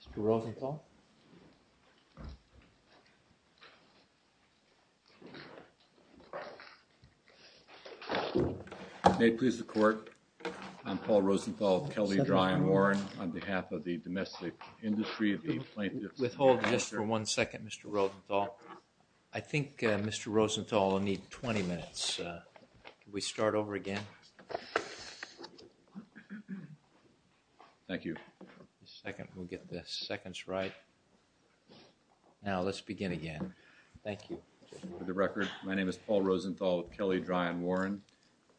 Mr. ROSENTHAL May it please the Court, I am Paul Rosenthal of Kelly Dry and Warren on behalf of the domestic industry of the plaintiffs. Withhold just for one second Mr. Rosenthal. I think Mr. Rosenthal will need 20 minutes. Can we start over again? Thank you. A second, we'll get the seconds right. Now let's begin again. Thank you. For the record, my name is Paul Rosenthal of Kelly Dry and Warren.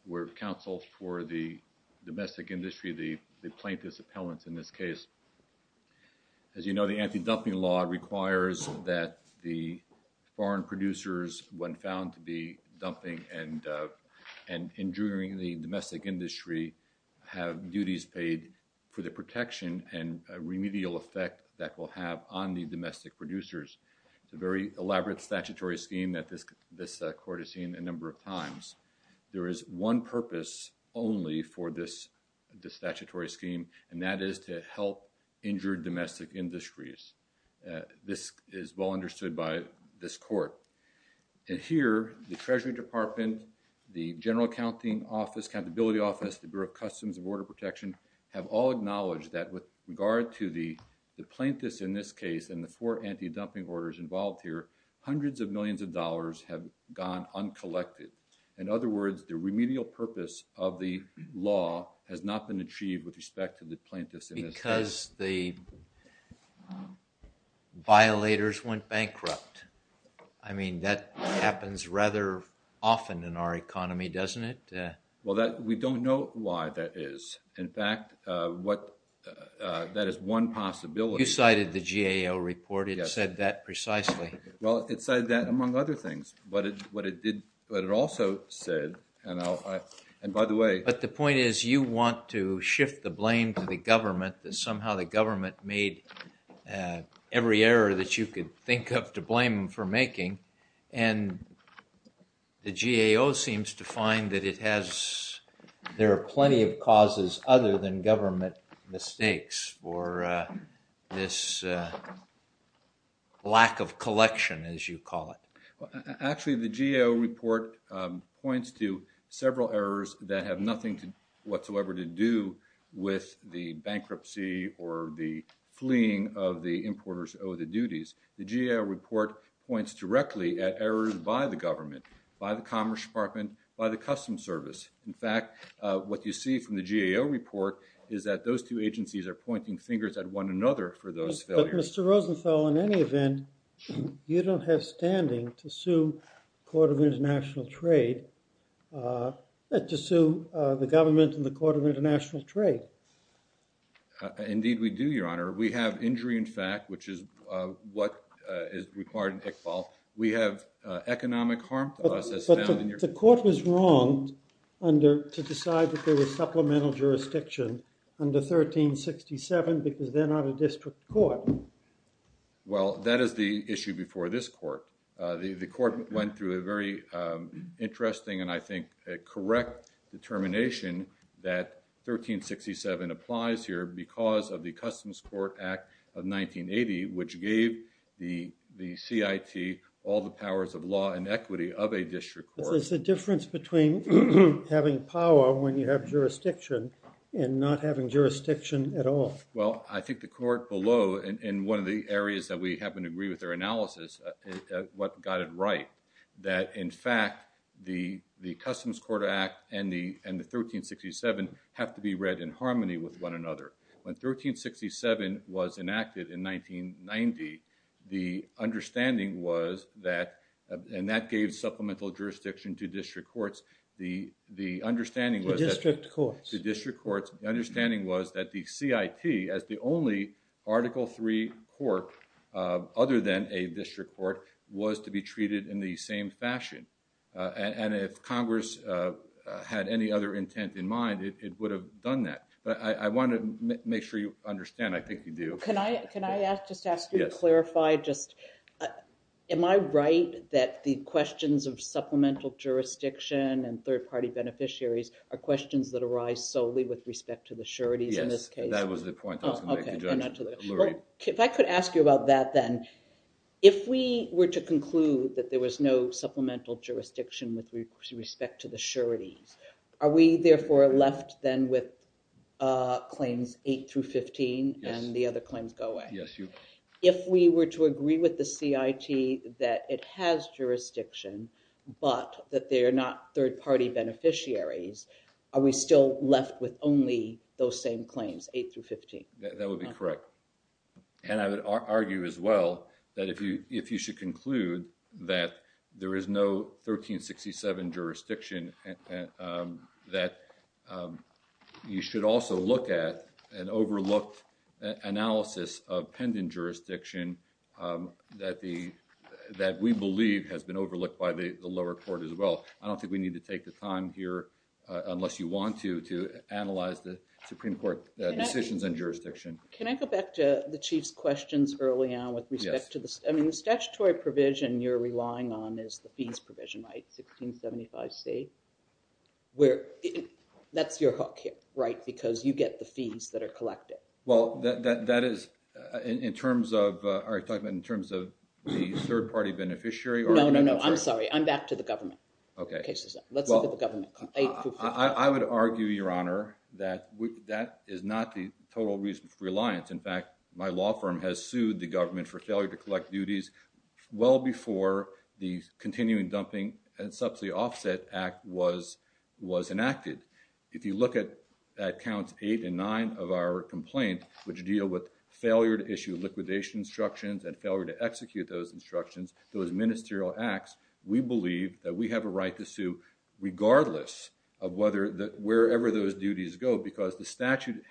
We're counsel for the domestic industry of the plaintiffs appellants in this case. As you know, the anti-dumping law requires that the foreign producers, when found to be dumping and injuring the domestic industry, have duties paid for the protection and remedial effect that will have on the domestic producers. It's a very elaborate statutory scheme that this Court has seen a number of times. There is one purpose only for this statutory scheme and that is to help injured domestic industries. This is well understood by this Court. And here, the Treasury Department, the General Accounting Office, Accountability Office, the Bureau of Customs and Border Protection have all acknowledged that with regard to the plaintiffs in this case and the four anti-dumping orders involved here, hundreds of millions of dollars have gone uncollected. In other words, the remedial purpose of the law has not been achieved with respect to the plaintiffs in this case. Because the violators went bankrupt. I mean, that happens rather often in our economy, doesn't it? Well, we don't know why that is. In fact, that is one possibility. You cited the GAO report. It said that precisely. Well, it said that among other things, but it also said, and by the way... The point is you want to shift the blame to the government, that somehow the government made every error that you could think of to blame them for making. And the GAO seems to find that it has... There are plenty of causes other than government mistakes for this lack of collection, as you call it. Actually, the GAO report points to several errors that have nothing whatsoever to do with the bankruptcy or the fleeing of the importers who owe the duties. The GAO report points directly at errors by the government, by the Commerce Department, by the Customs Service. In fact, what you see from the GAO report is that those two agencies are pointing fingers at one another for those failures. But Mr. Rosenthal, in any event, you don't have standing to sue the Court of International Trade and to sue the government and the Court of International Trade. Indeed, we do, Your Honor. We have injury in fact, which is what is required in Iqbal. We have economic harm to us as found in your... But the court was wrong to decide that there was supplemental jurisdiction under 1367 because they're not a district court. Well, that is the issue before this court. The court went through a very interesting and I think a correct determination that 1367 applies here because of the Customs Court Act of 1980, which gave the CIT all the powers of law and equity of a district court. Is the difference between having power when you have jurisdiction and not having jurisdiction at all? Well, I think the court below, in one of the areas that we happen to agree with their analysis, what got it right, that in fact, the Customs Court Act and the 1367 have to be read in harmony with one another. When 1367 was enacted in 1990, the understanding was that... And that gave supplemental jurisdiction to district courts. The understanding was... To district courts. To district courts. The understanding was that the CIT as the only Article III court other than a district court was to be treated in the same fashion. And if Congress had any other intent in mind, it would have done that. But I want to make sure you understand. I think you do. Can I just ask you to clarify just... Am I right that the questions of supplemental jurisdiction and third-party beneficiaries are questions that arise solely with respect to the sureties in this case? That was the point I was going to make to Judge Lurie. If I could ask you about that then. If we were to conclude that there was no supplemental jurisdiction with respect to the sureties, are we therefore left then with claims 8 through 15 and the other claims go away? Yes, you... If we were to agree with the CIT that it has jurisdiction, but that they are not third-party beneficiaries, are we still left with only those same claims, 8 through 15? That would be correct. And I would argue as well that if you should conclude that there is no 1367 jurisdiction, that you should also look at an overlooked analysis of pending jurisdiction that we believe has been overlooked by the lower court as well. I don't think we need to take the time here, to analyze the Supreme Court decisions and jurisdiction. Can I go back to the Chief's questions early on? With respect to the... I mean, the statutory provision you're relying on is the fees provision, right? 1675C, where... That's your hook here, right? Because you get the fees that are collected. Well, that is in terms of... Are you talking in terms of the third-party beneficiary? No, no, no, I'm sorry. I'm back to the government. Okay. Let's look at the government. I would argue, Your Honor, that is not the total reason for reliance. In fact, my law firm has sued the government for failure to collect duties well before the Continuing Dumping and Subsidy Offset Act was enacted. If you look at counts eight and nine of our complaint, which deal with failure to issue liquidation instructions and failure to execute those instructions, those ministerial acts, we believe that we have a right to sue regardless of wherever those duties go because the statute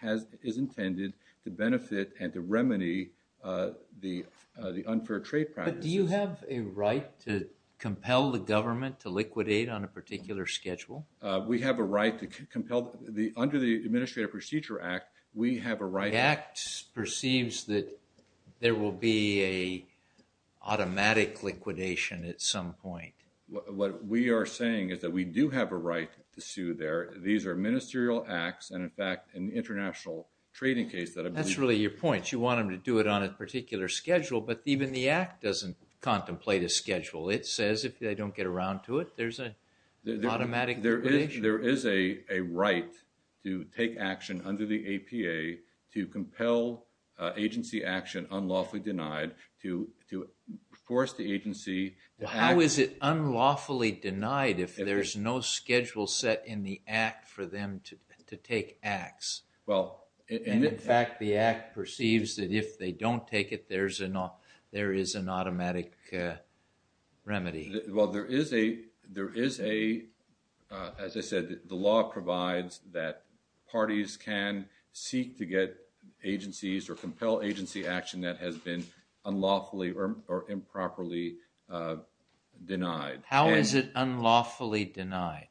is intended to benefit and to remedy the unfair trade practices. But do you have a right to compel the government to liquidate on a particular schedule? We have a right to compel... Under the Administrative Procedure Act, we have a right... The Act perceives that there will be an automatic liquidation at some point. What we are saying is that we do have a right to sue there. These are ministerial acts. And in fact, in the international trading case... That's really your point. You want them to do it on a particular schedule, but even the Act doesn't contemplate a schedule. It says if they don't get around to it, there's an automatic liquidation. There is a right to take action under the APA to compel agency action unlawfully denied to force the agency... How is it unlawfully denied if there's no schedule set in the Act for them to take acts? And in fact, the Act perceives that if they don't take it, there is an automatic remedy. As I said, the law provides that parties can seek to get agencies or compel agency action that has been unlawfully or improperly denied. How is it unlawfully denied?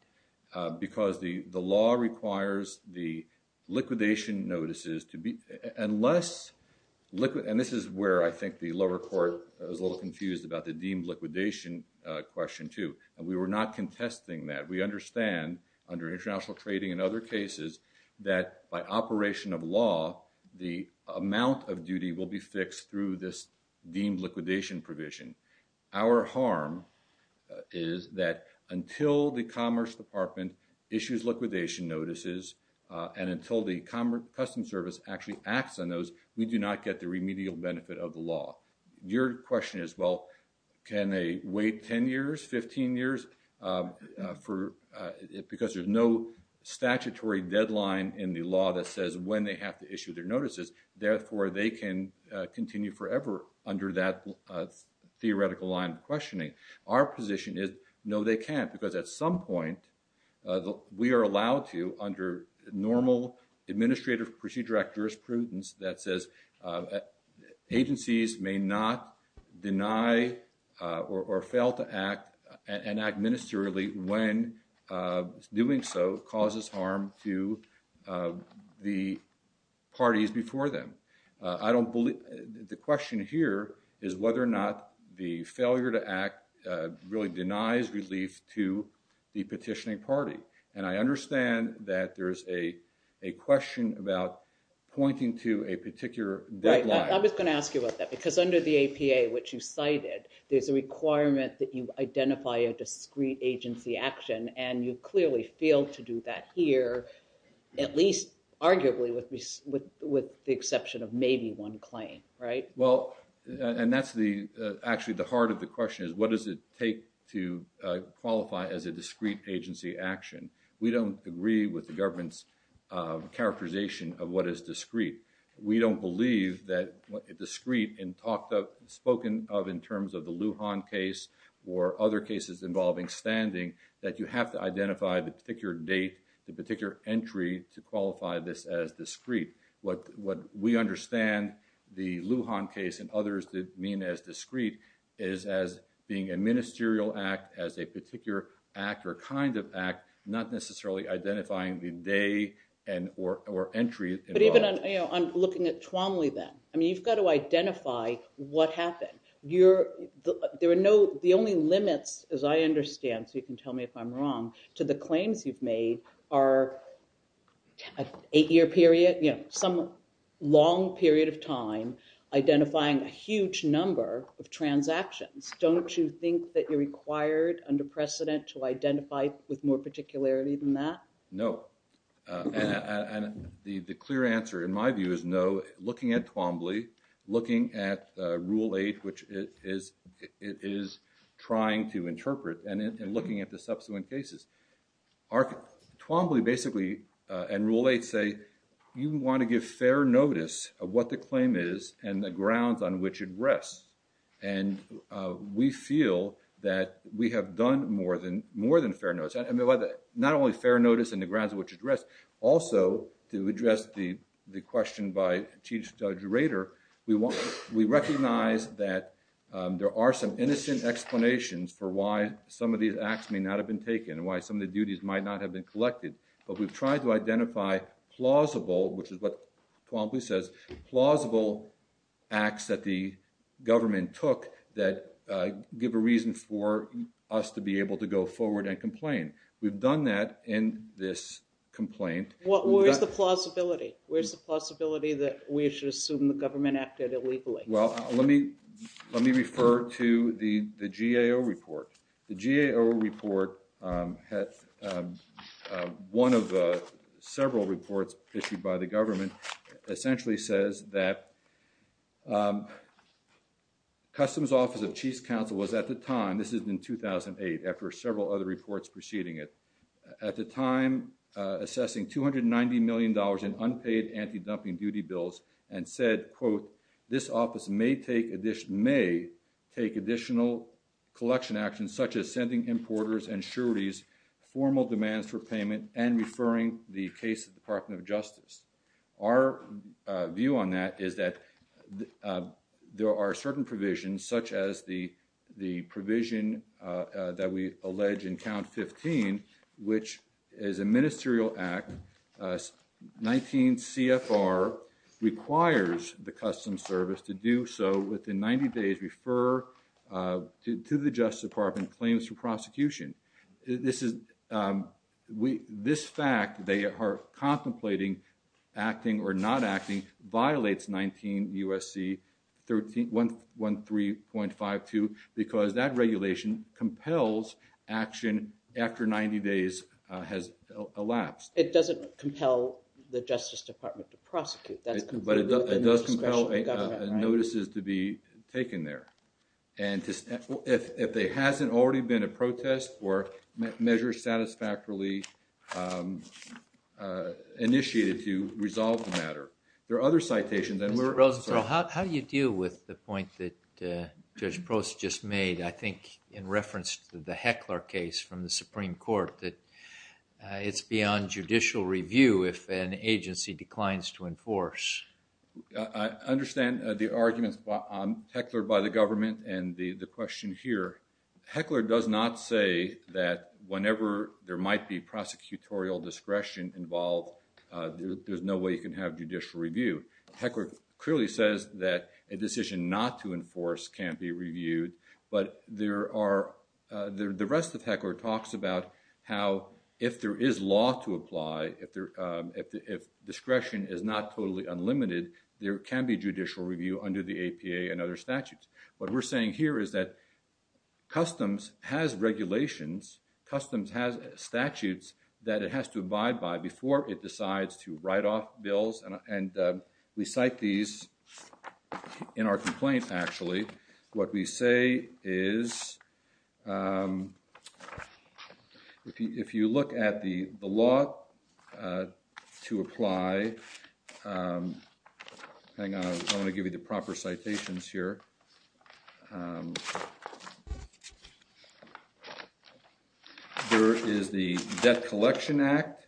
Because the law requires the liquidation notices to be... And this is where I think the lower court is a little confused about the deemed liquidation question too. And we were not contesting that. We understand under international trading and other cases that by operation of law, the amount of duty will be fixed through this deemed liquidation provision. Our harm is that until the Commerce Department issues liquidation notices and until the Customs Service actually acts on those, we do not get the remedial benefit of the law. Your question is, well, can they wait 10 years, 15 years? Because there's no statutory deadline in the law that says when they have to issue their notices. Therefore, they can continue forever under that theoretical line of questioning. Our position is, no, they can't. Because at some point, we are allowed to under normal administrative procedure act jurisprudence that says agencies may not deny or fail to act and act ministerially when doing so causes harm to the parties before them. I don't believe the question here is whether or not the failure to act really denies relief to the petitioning party. And I understand that there's a question about pointing to a particular deadline. I was going to ask you about that because under the APA, which you cited, there's a requirement that you identify a discrete agency action. And you clearly failed to do that here, at least arguably with the exception of maybe one claim, right? Well, and that's actually the heart of the question is what does it take to qualify as a discrete agency action? We don't agree with the government's characterization of what is discrete. We don't believe that discrete and spoken of in terms of the Lujan case or other cases involving standing that you have to identify the particular date, the particular entry to qualify this as discrete. What we understand the Lujan case and others did mean as discrete is as being a ministerial act as a particular act or kind of act, not necessarily identifying the day and or entry. But even on looking at Tuomly then, I mean, you've got to identify what happened. The only limits, as I understand, so you can tell me if I'm wrong, to the claims you've made are an eight-year period, you know, some long period of time identifying a huge number of transactions. Don't you think that you're required under precedent to identify with more particularity than that? No, and the clear answer in my view is no. Looking at Tuomly, looking at Rule 8, which it is trying to interpret and looking at the subsequent cases, Tuomly basically and Rule 8 say, you want to give fair notice of what the claim is and the grounds on which it rests. And we feel that we have done more than fair notice. I mean, not only fair notice and the grounds on which it rests, also to address the question by Chief Judge Rader, we recognize that there are some innocent explanations for why some of these acts may not have been taken and why some of the duties might not have been collected. But we've tried to identify plausible, which is what Tuomly says, plausible acts that the government took that give a reason for us to be able to go forward and complain. We've done that in this complaint. Where's the plausibility? Where's the plausibility that we should assume the government acted illegally? Well, let me refer to the GAO report. The GAO report, one of the several reports issued by the government, essentially says that Customs Office of Chief's Counsel was at the time, this is in 2008, after several other reports preceding it, at the time assessing $290 million in unpaid anti-dumping duty bills and said, quote, this office may take additional collection actions such as sending importers and sureties formal demands for payment and referring the case to the Department of Justice. Our view on that is that there are certain provisions such as the provision that we allege in count 15, which is a ministerial act, 19 CFR requires the Customs Service to do so within 90 days, refer to the Justice Department claims for prosecution. This fact, they are contemplating acting or not acting, violates 19 USC 13.52 because that regulation compels action after 90 days has elapsed. It doesn't compel the Justice Department to prosecute. That's completely within the discretion of the government. But it does compel notices to be taken there. And if there hasn't already been a protest or measures satisfactorily initiated to resolve the matter. There are other citations and we're... Mr. Rosenthal, how do you deal with the point that Judge Post just made? I think in reference to the Heckler case from the Supreme Court, that it's beyond judicial review if an agency declines to enforce. I understand the arguments on Heckler by the government and the question here. Heckler does not say that whenever there might be prosecutorial discretion involved, there's no way you can have judicial review. Heckler clearly says that a decision not to enforce can't be reviewed. But there are... The rest of Heckler talks about how if there is law to apply, if discretion is not totally unlimited, there can be judicial review under the APA and other statutes. What we're saying here is that customs has regulations, customs has statutes that it has to abide by before it decides to write off bills. And we cite these in our complaints actually. What we say is... If you look at the law to apply... Hang on, I want to give you the proper citations here. There is the Debt Collection Act.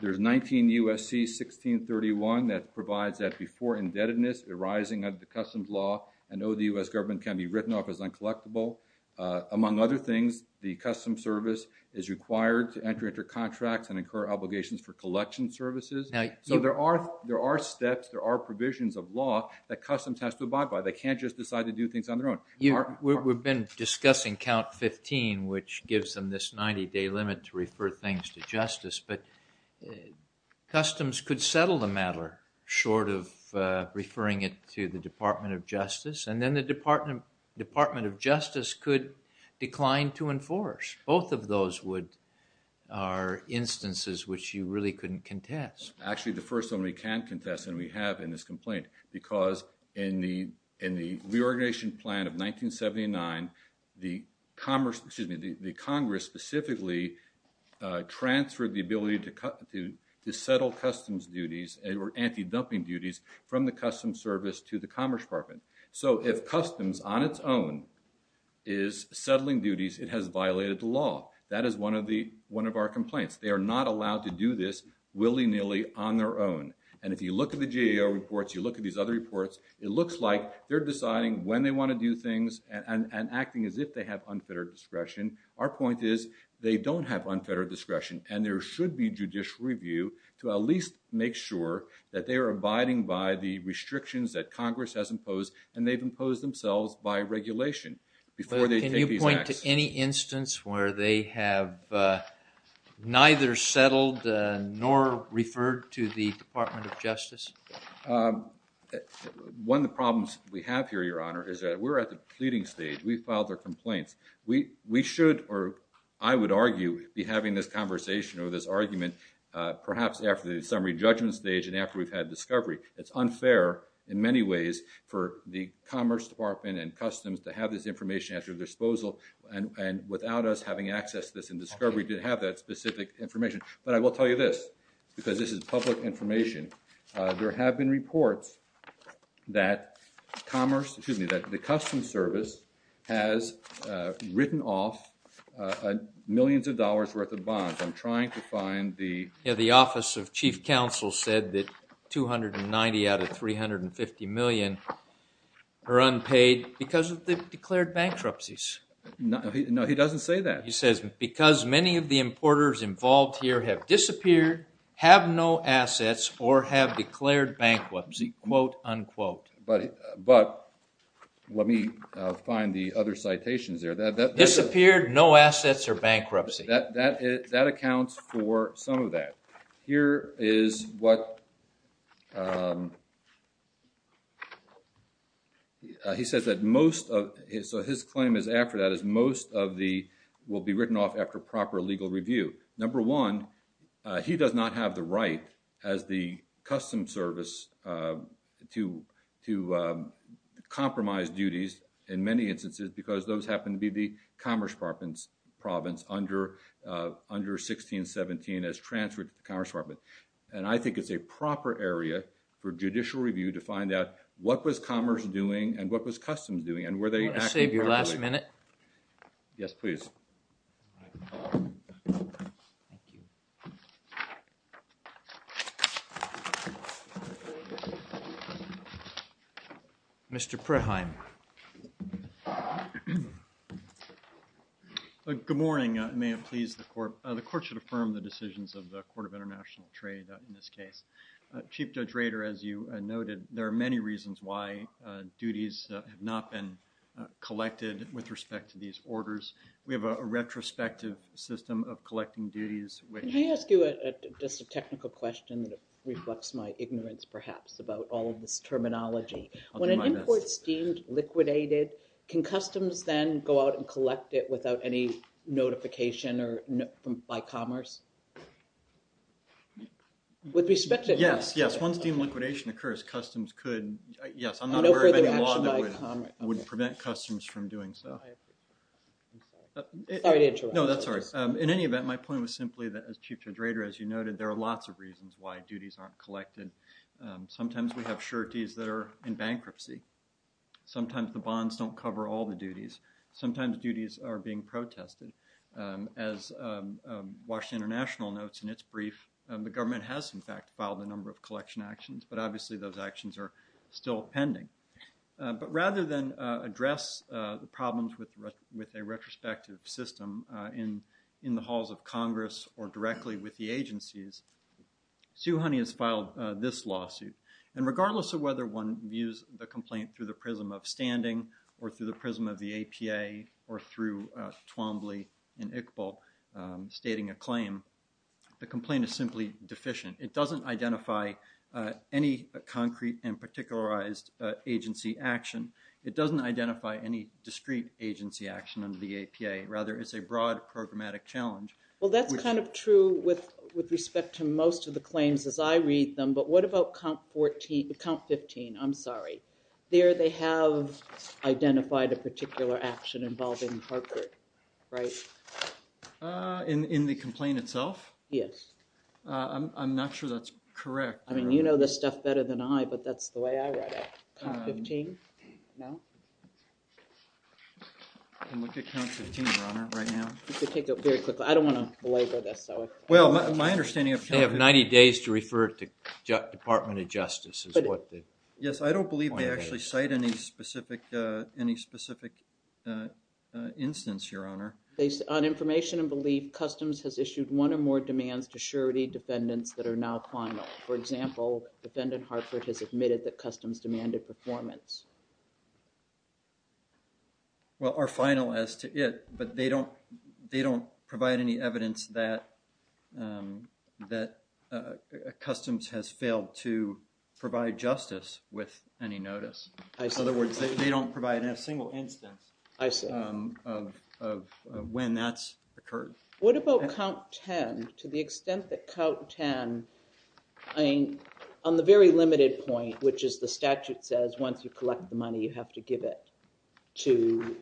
There's 19 U.S.C. 1631 that provides that before indebtedness arising of the customs law, I know the U.S. government can be written off as uncollectible. Among other things, the customs service is required to enter contracts and incur obligations for collection services. So there are steps, there are provisions of law that customs has to abide by. They can't just decide to do things on their own. We've been discussing count 15, which gives them this 90-day limit to refer things to justice. But customs could settle the matter short of referring it to the Department of Justice and then the Department of Justice could decline to enforce. Both of those are instances which you really couldn't contest. Actually, the first one we can contest and we have in this complaint because in the reorganization plan of 1979, the Congress specifically transferred the ability to settle customs duties or anti-dumping duties from the customs service to the Commerce Department. So if customs on its own is settling duties, it has violated the law. That is one of our complaints. They are not allowed to do this willy-nilly on their own. And if you look at the GAO reports, you look at these other reports, it looks like they're deciding when they want to do things and acting as if they have unfettered discretion. Our point is they don't have unfettered discretion and there should be judicial review to at least make sure that they are abiding by the restrictions that Congress has imposed and they've imposed themselves by regulation before they take these actions. Can you point to any instance where they have neither settled nor referred to the Department of Justice? One of the problems we have here, Your Honor, is that we're at the pleading stage. We filed our complaints. We should, or I would argue, be having this conversation or this argument perhaps after the summary judgment stage and after we've had discovery. It's unfair in many ways for the Commerce Department and Customs to have this information at their disposal and without us having access to this in discovery to have that specific information. But I will tell you this, because this is public information, there have been reports that the Customs Service has written off millions of dollars worth of bonds. I'm trying to find the... Yeah, the Office of Chief Counsel said that 290 out of 350 million are unpaid because of the declared bankruptcies. No, he doesn't say that. He says, because many of the importers involved here have disappeared, have no assets, or have declared bankruptcy, quote, unquote. But let me find the other citations there. That disappeared, no assets, or bankruptcy. That accounts for some of that. Here is what... He says that most of... So his claim is after that is most of the... will be written off after proper legal review. Number one, he does not have the right as the Customs Service to compromise duties in many instances because those happen to be the Commerce Department's province under 1617 as transferred to the Commerce Department. And I think it's a proper area for judicial review to find out what was Commerce doing and what was Customs doing. And were they... I'll save your last minute. Yes, please. Thank you. Mr. Preheim. Good morning. May it please the Court. The Court should affirm the decisions of the Court of International Trade in this case. Chief Judge Rader, as you noted, there are many reasons why duties have not been collected with respect to these orders. We have a retrospective system of collecting duties which... Can I ask you just a technical question that reflects my ignorance, perhaps, about all of this terminology? When an import's deemed liquidated, can Customs then go out and collect it without any notification by Commerce? With respect to... Yes, yes. Once deemed liquidation occurs, Customs could... Yes, I'm not aware of any law that would prevent Customs from doing so. I agree. Sorry to interrupt. No, that's all right. In any event, my point was simply that, as Chief Judge Rader, as you noted, there are lots of reasons why duties aren't collected. Sometimes we have sureties that are in bankruptcy. Sometimes the bonds don't cover all the duties. Sometimes duties are being protested. As Washington International notes in its brief, the government has, in fact, filed a number of collection actions, but obviously those actions are still pending. But rather than address the problems with a retrospective system in the halls of Congress or directly with the agencies, Sue Honey has filed this lawsuit. And regardless of whether one views the complaint through the prism of standing or through the prism of the APA or through Twombly and Iqbal stating a claim, the complaint is simply deficient. It doesn't identify any concrete and particularized agency action. It doesn't identify any discrete agency action under the APA. Rather, it's a broad programmatic challenge. Well, that's kind of true with respect to most of the claims as I read them. But what about COUNT 15? I'm sorry. There they have identified a particular action involving Harcourt, right? In the complaint itself? Yes. I'm not sure that's correct. I mean, you know this stuff better than I, but that's the way I read it. COUNT 15? No? I'm looking at COUNT 15, Your Honor, right now. You should take it very quickly. I don't want to belabor this. Well, my understanding of COUNT 15... They have 90 days to refer it to Department of Justice is what they... Yes, I don't believe they actually cite any specific instance, Your Honor. Based on information and belief, Customs has issued one or more demands to surety defendants that are now final. For example, defendant Harcourt has admitted that Customs demanded performance. Well, are final as to it, but they don't provide any evidence that Customs has failed to provide justice with any notice. I see. In other words, they don't provide a single instance of when that's occurred. What about COUNT 10? To the extent that COUNT 10... I mean, on the very limited point, which is the statute says, once you collect the money, you have to give it to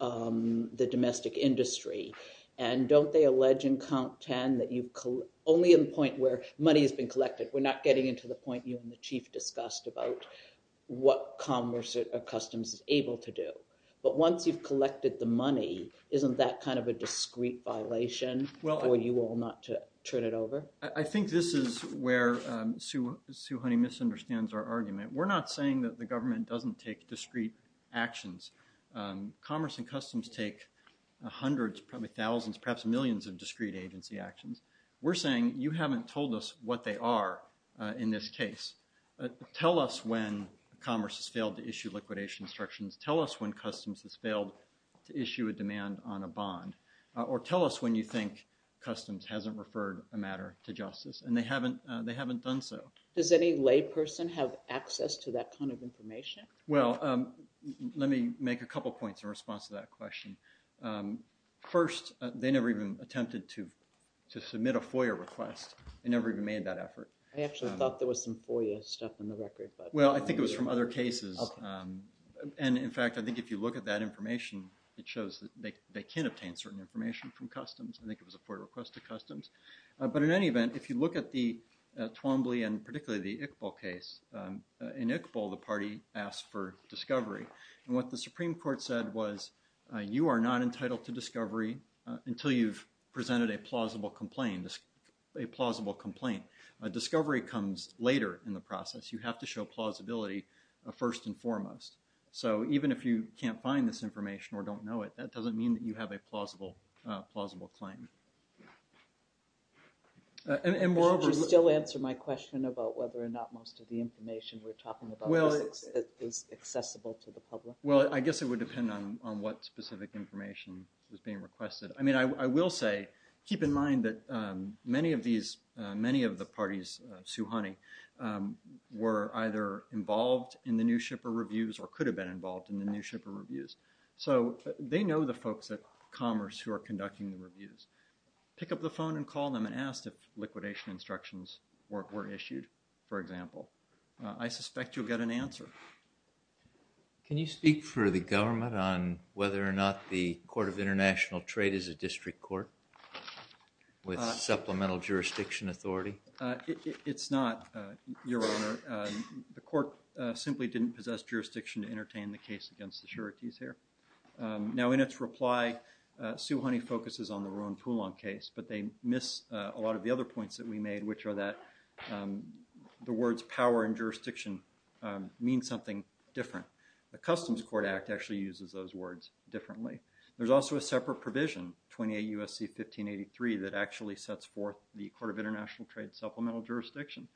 the domestic industry. And don't they allege in COUNT 10 that you've... Only in the point where money has been collected. We're not getting into the point you and the Chief discussed about what Commerce or Customs is able to do. But once you've collected the money, isn't that kind of a discreet violation? For you all not to turn it over? I think this is where Sue Honey misunderstands our argument. We're not saying that the government doesn't take discreet actions. Commerce and Customs take hundreds, probably thousands, perhaps millions of discreet agency actions. We're saying you haven't told us what they are in this case. Tell us when Commerce has failed to issue liquidation instructions. Tell us when Customs has failed to issue a demand on a bond. Or tell us when you think Customs hasn't referred a matter to justice and they haven't done so. Does any lay person have access to that kind of information? Well, let me make a couple points in response to that question. First, they never even attempted to submit a FOIA request. They never even made that effort. I actually thought there was some FOIA stuff in the record. Well, I think it was from other cases. And in fact, I think if you look at that information, it shows that they can obtain certain information from Customs. I think it was a FOIA request to Customs. But in any event, if you look at the Twombly and particularly the Iqbal case, in Iqbal, the party asked for discovery. And what the Supreme Court said was, you are not entitled to discovery until you've presented a plausible complaint. Discovery comes later in the process. You have to show plausibility first and foremost. So even if you can't find this information or don't know it, that doesn't mean that you have a plausible claim. And moreover— Could you still answer my question about whether or not most of the information we're talking about is accessible to the public? Well, I guess it would depend on what specific information was being requested. I mean, I will say, keep in mind that many of the parties, Sue Honey, were either involved in the New Shipper Reviews or could have been involved in the New Shipper Reviews. So they know the folks at Commerce who are conducting the reviews. Pick up the phone and call them and ask if liquidation instructions were issued, for example. I suspect you'll get an answer. Can you speak for the government on whether or not the Court of International Trade is a district court with supplemental jurisdiction authority? It's not, Your Honor. The Court simply didn't possess jurisdiction to entertain the case against the sureties here. Now, in its reply, Sue Honey focuses on the Rowan Poulon case, but they miss a lot of the other points that we made, which are that the words power and jurisdiction mean something different. The Customs Court Act actually uses those words differently. There's also a separate provision, 28 U.S.C. 1583, that actually sets forth the Court of International Trade supplemental jurisdiction.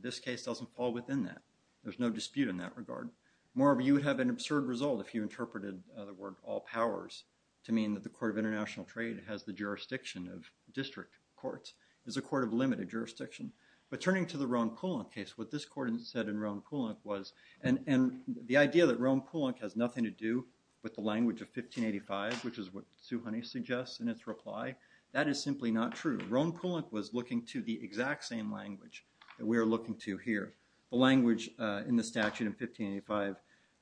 This case doesn't fall within that. There's no dispute in that regard. Moreover, you would have an absurd result if you interpreted the word all powers to mean that the Court of International Trade has the jurisdiction of district courts. It's a court of limited jurisdiction. But turning to the Rowan Poulon case, what this court said in Rowan Poulon was, and the idea that Rowan Poulon has nothing to do with the language of 1585, which is what Sue Honey suggests in its reply, that is simply not true. Rowan Poulon was looking to the exact same language that we are looking to here, the language in the statute in 1585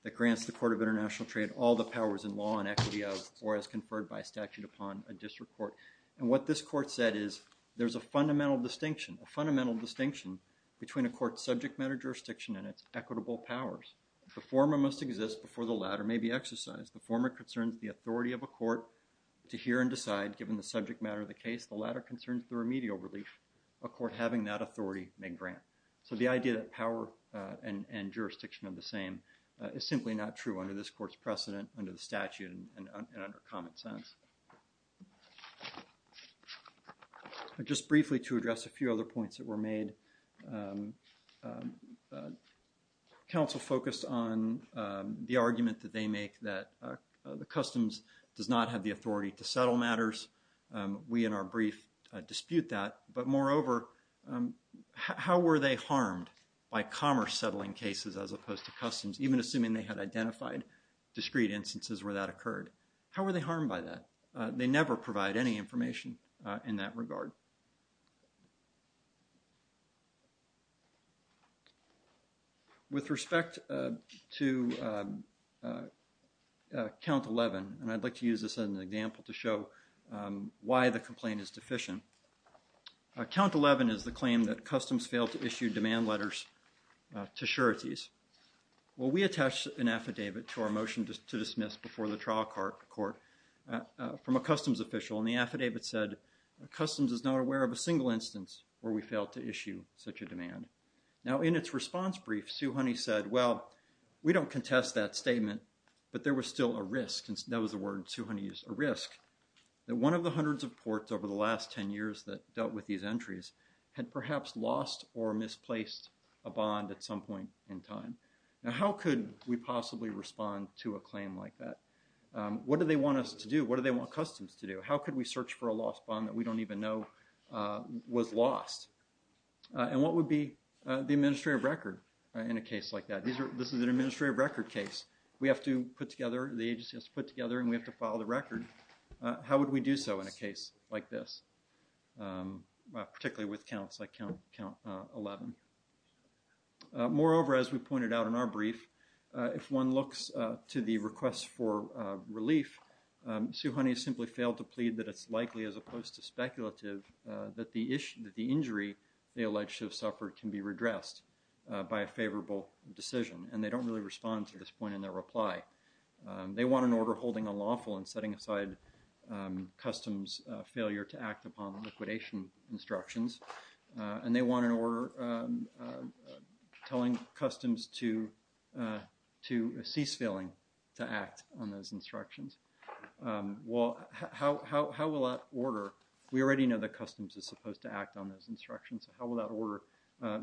that grants the Court of International Trade all the powers in law and equity of or as conferred by statute upon a district court. And what this court said is, there's a fundamental distinction, a fundamental distinction between a court's subject matter jurisdiction and its equitable powers. The former must exist before the latter may be exercised. The former concerns the authority of a court to hear and decide, given the subject matter of the case. The latter concerns the remedial relief, a court having that authority may grant. So the idea that power and jurisdiction are the same is simply not true under this court's precedent, under the statute, and under common sense. Just briefly to address a few other points that were made, counsel focused on the argument that they make that the customs does not have the authority to settle matters. We in our brief dispute that, but moreover, how were they harmed by commerce settling cases as opposed to customs, even assuming they had identified discrete instances where that occurred? How were they harmed by that? They never provide any information in that regard. So with respect to count 11, and I'd like to use this as an example to show why the complaint is deficient. Count 11 is the claim that customs failed to issue demand letters to sureties. Well, we attached an affidavit to our motion to dismiss before the trial court from a customs official and the affidavit said, customs is not aware of a single instance where we failed to issue such a demand. Now, in its response brief, Sue Honey said, well, we don't contest that statement, but there was still a risk, and that was the word Sue Honey used, a risk, that one of the hundreds of ports over the last 10 years that dealt with these entries had perhaps lost or misplaced a bond at some point in time. Now, how could we possibly respond to a claim like that? What do they want us to do? What do they want customs to do? How could we search for a lost bond that we don't even know was lost? And what would be the administrative record in a case like that? This is an administrative record case. We have to put together, the agency has to put together, and we have to file the record. How would we do so in a case like this, particularly with counts like count 11? Moreover, as we pointed out in our brief, if one looks to the request for relief, Sue Honey has simply failed to plead that it's likely, as opposed to speculative, that the issue, that the injury they alleged to have suffered can be redressed by a favorable decision, and they don't really respond to this point in their reply. They want an order holding unlawful and setting aside customs failure to act upon liquidation instructions, and they want an order telling customs to cease failing to act on those instructions. Well, how will that order? We already know that customs is supposed to act on those instructions. How will that order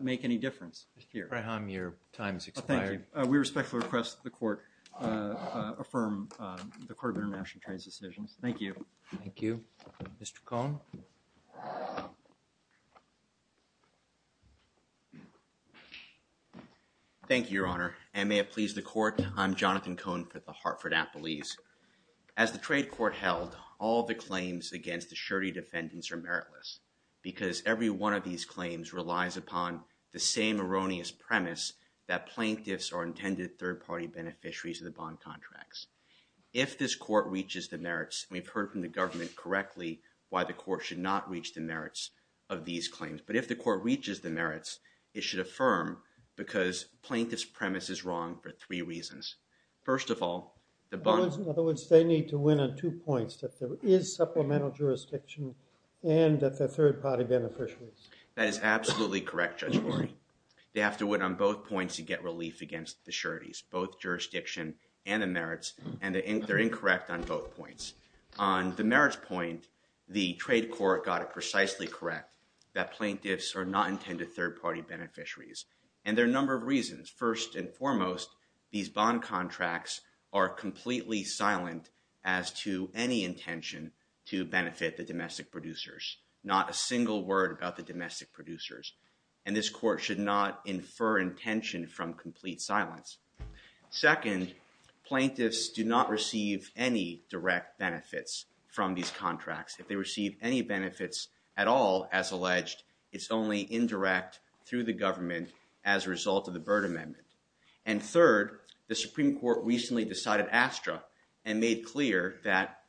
make any difference here? Graham, your time has expired. We respectfully request that the Court affirm the Court of International Trade's decisions. Thank you. Thank you. Mr. Cohn. Thank you, Your Honor, and may it please the Court, I'm Jonathan Cohn for the Hartford Appellees. As the trade court held, all the claims against the surety defendants are meritless, because every one of these claims relies upon the same erroneous premise that plaintiffs are intended third-party beneficiaries of the bond contracts. If this court reaches the merits, and we've heard from the government correctly why the court should not reach the merits of these claims, but if the court reaches the merits, it should affirm, because plaintiff's premise is wrong for three reasons. First of all, the bond— In other words, they need to win on two points, that there is supplemental jurisdiction, and that they're third-party beneficiaries. That is absolutely correct, Judge Warren. They have to win on both points to get relief against the sureties, both jurisdiction and the merits, and they're incorrect on both points. On the merits point, the trade court got it precisely correct that plaintiffs are not intended third-party beneficiaries, and there are a number of reasons. First and foremost, these bond contracts are completely silent as to any intention to benefit the domestic producers. Not a single word about the domestic producers. And this court should not infer intention from complete silence. Second, plaintiffs do not receive any direct benefits from these contracts. If they receive any benefits at all, as alleged, it's only indirect through the government as a result of the Byrd Amendment. And third, the Supreme Court recently decided ASTRA and made clear that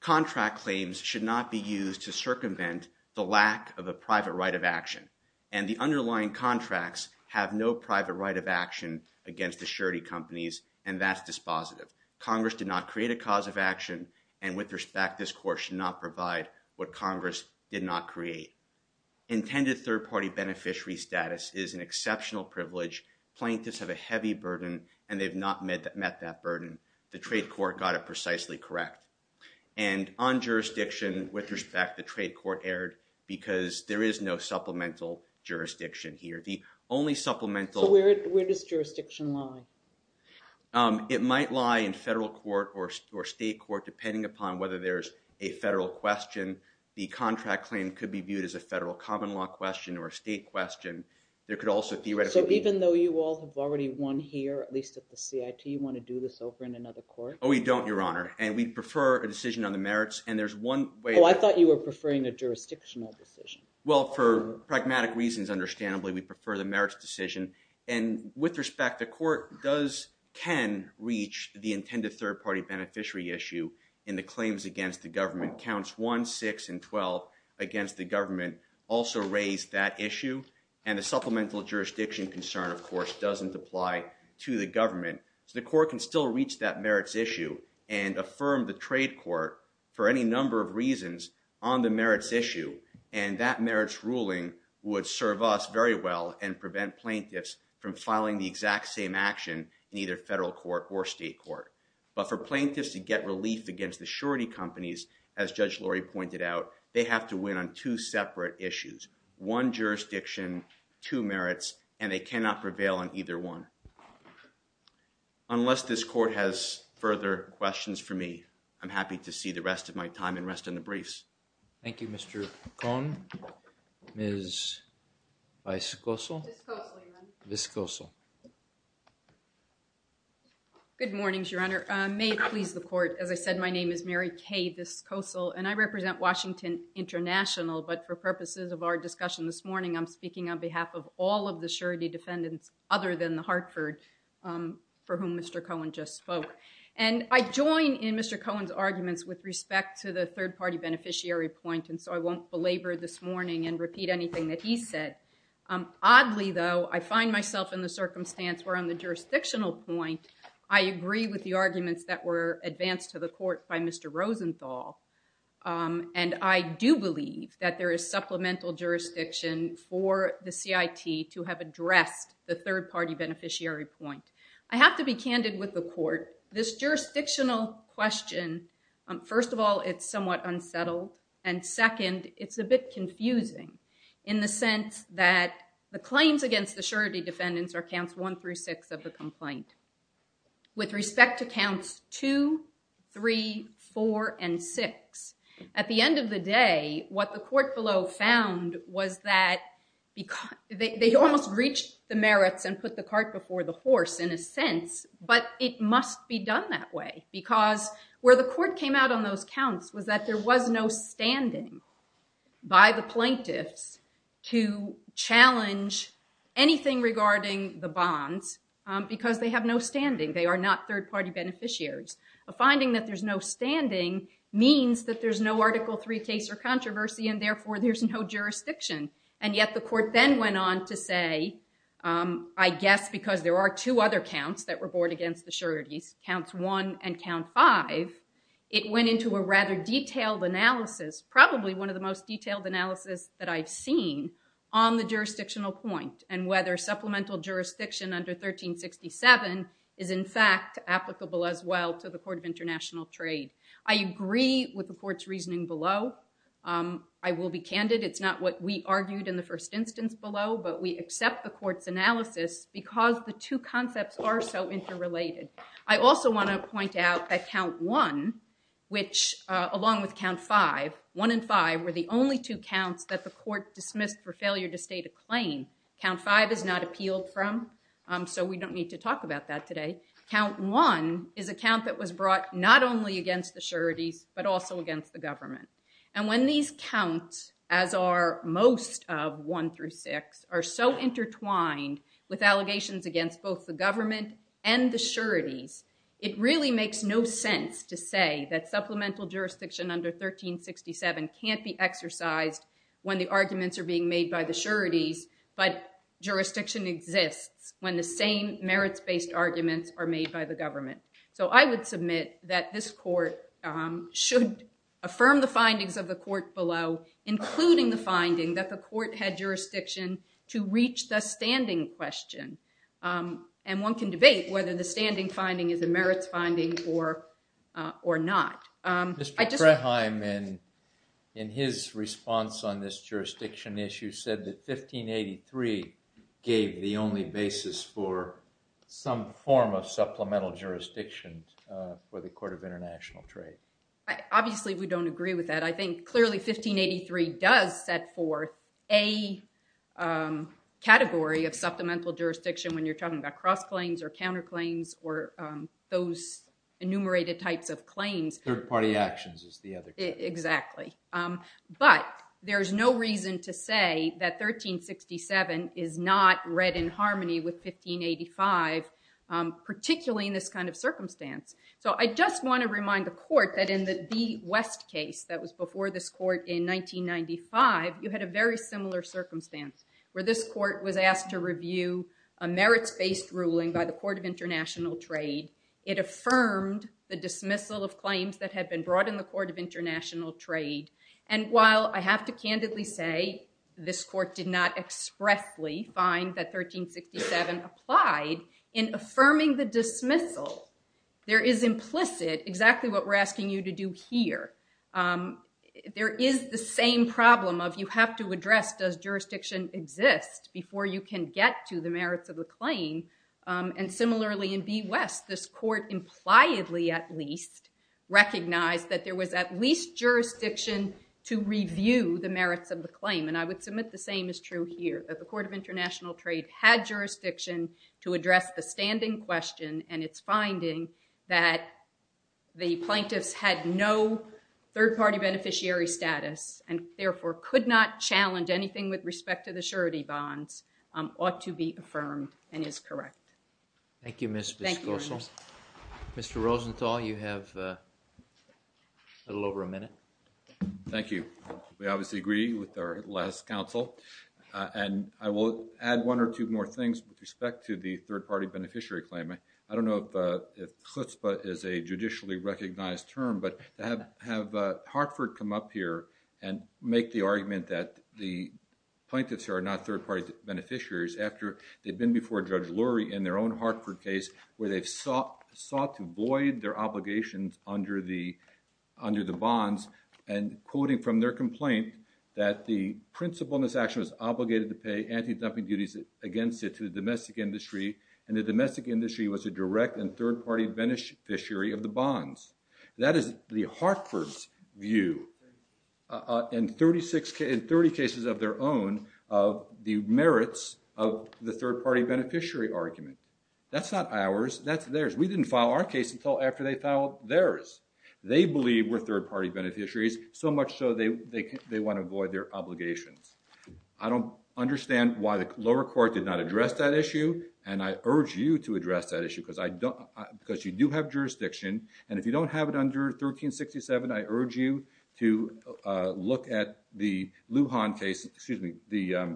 contract claims should not be used to circumvent the lack of a private right of action, and the underlying contracts have no private right of action against the surety companies, and that's dispositive. Congress did not create a cause of action, and with respect, this court should not provide what Congress did not create. Intended third-party beneficiary status is an exceptional privilege. Plaintiffs have a heavy burden, and they've not met that burden. The trade court got it precisely correct. And on jurisdiction, with respect, the trade court erred because there is no supplemental jurisdiction here. The only supplemental... So where does jurisdiction lie? It might lie in federal court or state court, depending upon whether there's a federal question. The contract claim could be viewed as a federal common law question or a state question. There could also theoretically be... So even though you all have already won here, at least at the CIT, you want to do this over in another court? Oh, we don't, Your Honor, and we prefer a decision on the merits. And there's one way... Oh, I thought you were preferring a jurisdictional decision. Well, for pragmatic reasons, understandably, we prefer the merits decision. And with respect, the court does, can reach the intended third-party beneficiary issue in the claims against the government. Counts 1, 6, and 12 against the government also raise that issue. And the supplemental jurisdiction concern, of course, doesn't apply to the government. So the court can still reach that merits issue and affirm the trade court for any number of reasons on the merits issue. And that merits ruling would serve us very well and prevent plaintiffs from filing the exact same action in either federal court or state court. But for plaintiffs to get relief against the surety companies as Judge Laurie pointed out, they have to win on two separate issues, one jurisdiction, two merits, and they cannot prevail on either one. Unless this court has further questions for me, I'm happy to see the rest of my time and rest in the briefs. Thank you, Mr. Cohn. Ms. Viscoso? Viscoso, Your Honor. Viscoso. Good morning, Your Honor. May it please the court, as I said, my name is Mary Kay Viscoso, and I represent Washington International. But for purposes of our discussion this morning, I'm speaking on behalf of all of the surety defendants other than the Hartford for whom Mr. Cohn just spoke. And I join in Mr. Cohn's arguments with respect to the third party beneficiary point. And so I won't belabor this morning and repeat anything that he said. Oddly, though, I find myself in the circumstance where on the jurisdictional point, I agree with the arguments that were advanced to the court by Mr. Rosenthal. And I do believe that there is supplemental jurisdiction for the CIT to have addressed the third party beneficiary point. I have to be candid with the court. This jurisdictional question, first of all, it's somewhat unsettled. And second, it's a bit confusing in the sense that the claims against the surety defendants are counts one through six of the complaint. With respect to counts two, three, four, and six. At the end of the day, what the court below found was that they almost reached the merits and put the cart before the horse in a sense. But it must be done that way because where the court came out on those counts was that there was no standing by the plaintiffs to challenge anything regarding the bonds because they have no standing. They are not third party beneficiaries. A finding that there's no standing means that there's no article three case or controversy and therefore there's no jurisdiction. And yet the court then went on to say, I guess because there are two other counts that were brought against the sureties, counts one and count five. It went into a rather detailed analysis, probably one of the most detailed analysis that I've seen on the jurisdictional point and whether supplemental jurisdiction under 1367 is in fact applicable as well to the Court of International Trade. I agree with the court's reasoning below. I will be candid. It's not what we argued in the first instance below, but we accept the court's analysis because the two concepts are so interrelated. I also want to point out that count one, which along with count five, one and five were the only two counts that the court dismissed for failure to state a claim. Count five is not appealed from, so we don't need to talk about that today. Count one is a count that was brought not only against the sureties, but also against the government. And when these counts as are most of one through six are so intertwined with allegations against both the government and the sureties, it really makes no sense to say that supplemental jurisdiction under 1367 can't be exercised when the arguments are being made by the sureties, but jurisdiction exists when the same merits-based arguments are made by the government. So I would submit that this court should affirm the findings of the court below, including the finding that the court had jurisdiction to reach the standing question. And one can debate whether the standing finding is a merits finding or not. I just- Mr. Kraheim, in his response on this jurisdiction issue, said that 1583 gave the only basis for some form of supplemental jurisdiction for the Court of International Trade. Obviously, we don't agree with that. I think clearly 1583 does set forth a category of supplemental jurisdiction when you're talking about cross-claims or counter-claims or those enumerated types of claims. Third-party actions is the other category. Exactly. But there's no reason to say that 1367 is not read in harmony with 1585, particularly in this kind of circumstance. So I just want to remind the court that in the West case that was before this court in 1995, you had a very similar circumstance where this court was asked to review a merits-based ruling by the Court of International Trade. It affirmed the dismissal of claims that had been brought in the Court of International Trade. And while I have to candidly say this court did not expressly find that 1367 applied in affirming the dismissal, there is implicit exactly what we're asking you to do here. There is the same problem of you have to address does jurisdiction exist before you can get to the merits of the claim. And similarly in B. West, this court impliedly at least recognized that there was at least jurisdiction to review the merits of the claim. And I would submit the same is true here, that the Court of International Trade had jurisdiction to address the standing question and its finding that the plaintiffs had no third-party beneficiary status and therefore could not challenge ought to be affirmed and is correct. Thank you, Ms. Gossel. Mr. Rosenthal, you have a little over a minute. Thank you. We obviously agree with our last counsel and I will add one or two more things with respect to the third-party beneficiary claim. I don't know if chutzpah is a judicially recognized term, but have Hartford come up here and make the argument that the plaintiffs are not third-party beneficiaries after they've been before Judge Lurie in their own Hartford case where they've sought to void their obligations under the bonds and quoting from their complaint that the principle in this action was obligated to pay anti-dumping duties against it to the domestic industry and the domestic industry was a direct and third-party beneficiary of the bonds. That is the Hartford's view in 30 cases of their own of the merits of the third-party beneficiary argument. That's not ours. That's theirs. We didn't file our case until after they filed theirs. They believe we're third-party beneficiaries so much so they want to void their obligations. I don't understand why the lower court did not address that issue and I urge you to address that issue because you do have jurisdiction and if you don't have it under 1367 I urge you to look at the Lujan case, excuse me, the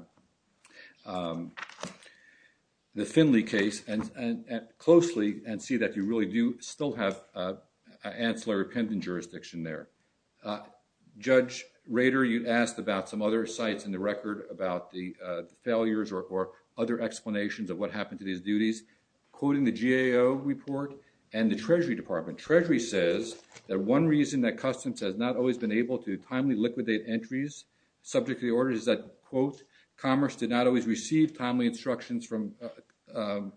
Finley case closely and see that you really do still have ancillary pending jurisdiction there. Judge Rader, you asked about some other sites in the record about the failures or other explanations of what happened to these duties quoting the GAO report and the Treasury Department. Treasury says that one reason that Customs has not always been able to timely liquidate entries subject to the order is that quote, commerce did not always receive timely instructions from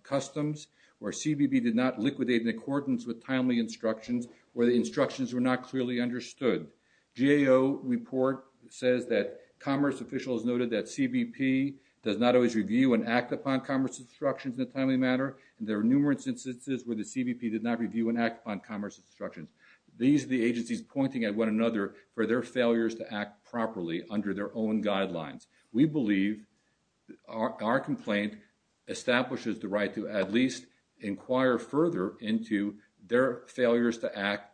Customs where CBP did not liquidate in accordance with timely instructions where the instructions were not clearly understood. GAO report says that commerce officials noted that CBP does not always review and act upon commerce instructions in a timely manner and there are numerous instances where the CBP did not review and act on commerce instructions. These are the agencies pointing at one another for their failures to act properly under their own guidelines. We believe our complaint establishes the right to at least inquire further into their failures to act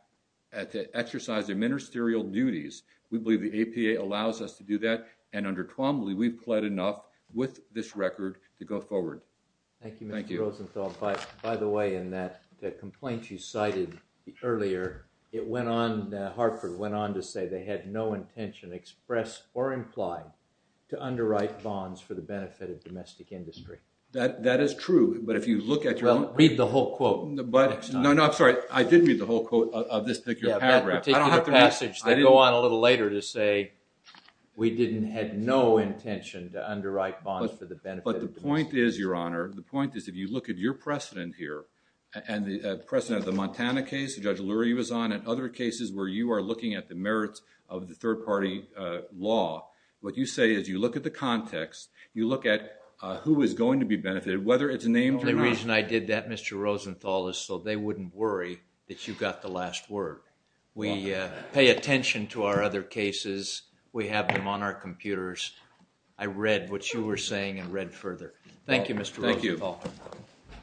to exercise their ministerial duties. We believe the APA allows us to do that and under Twombly, we've pled enough with this record to go forward. Thank you, Mr. Rosenthal. By the way, in that complaint you cited earlier, it went on, Hartford went on to say they had no intention expressed or implied to underwrite bonds for the benefit of domestic industry. That is true, but if you look at your own... Read the whole quote. But no, no, I'm sorry. I did read the whole quote of this particular paragraph. That particular passage, they go on a little later to say we didn't had no intention to underwrite bonds for the benefit. But the point is, Your Honor, the point is if you look at your precedent here and the precedent of the Montana case, Judge Lurie was on, and other cases where you are looking at the merits of the third party law, what you say is you look at the context, you look at who is going to be benefited, whether it's named or not. The only reason I did that, Mr. Rosenthal, is so they wouldn't worry that you got the last word. We pay attention to our other cases. We have them on our computers. I read what you were saying and read further. Thank you, Mr. Rosenthal. Thank you.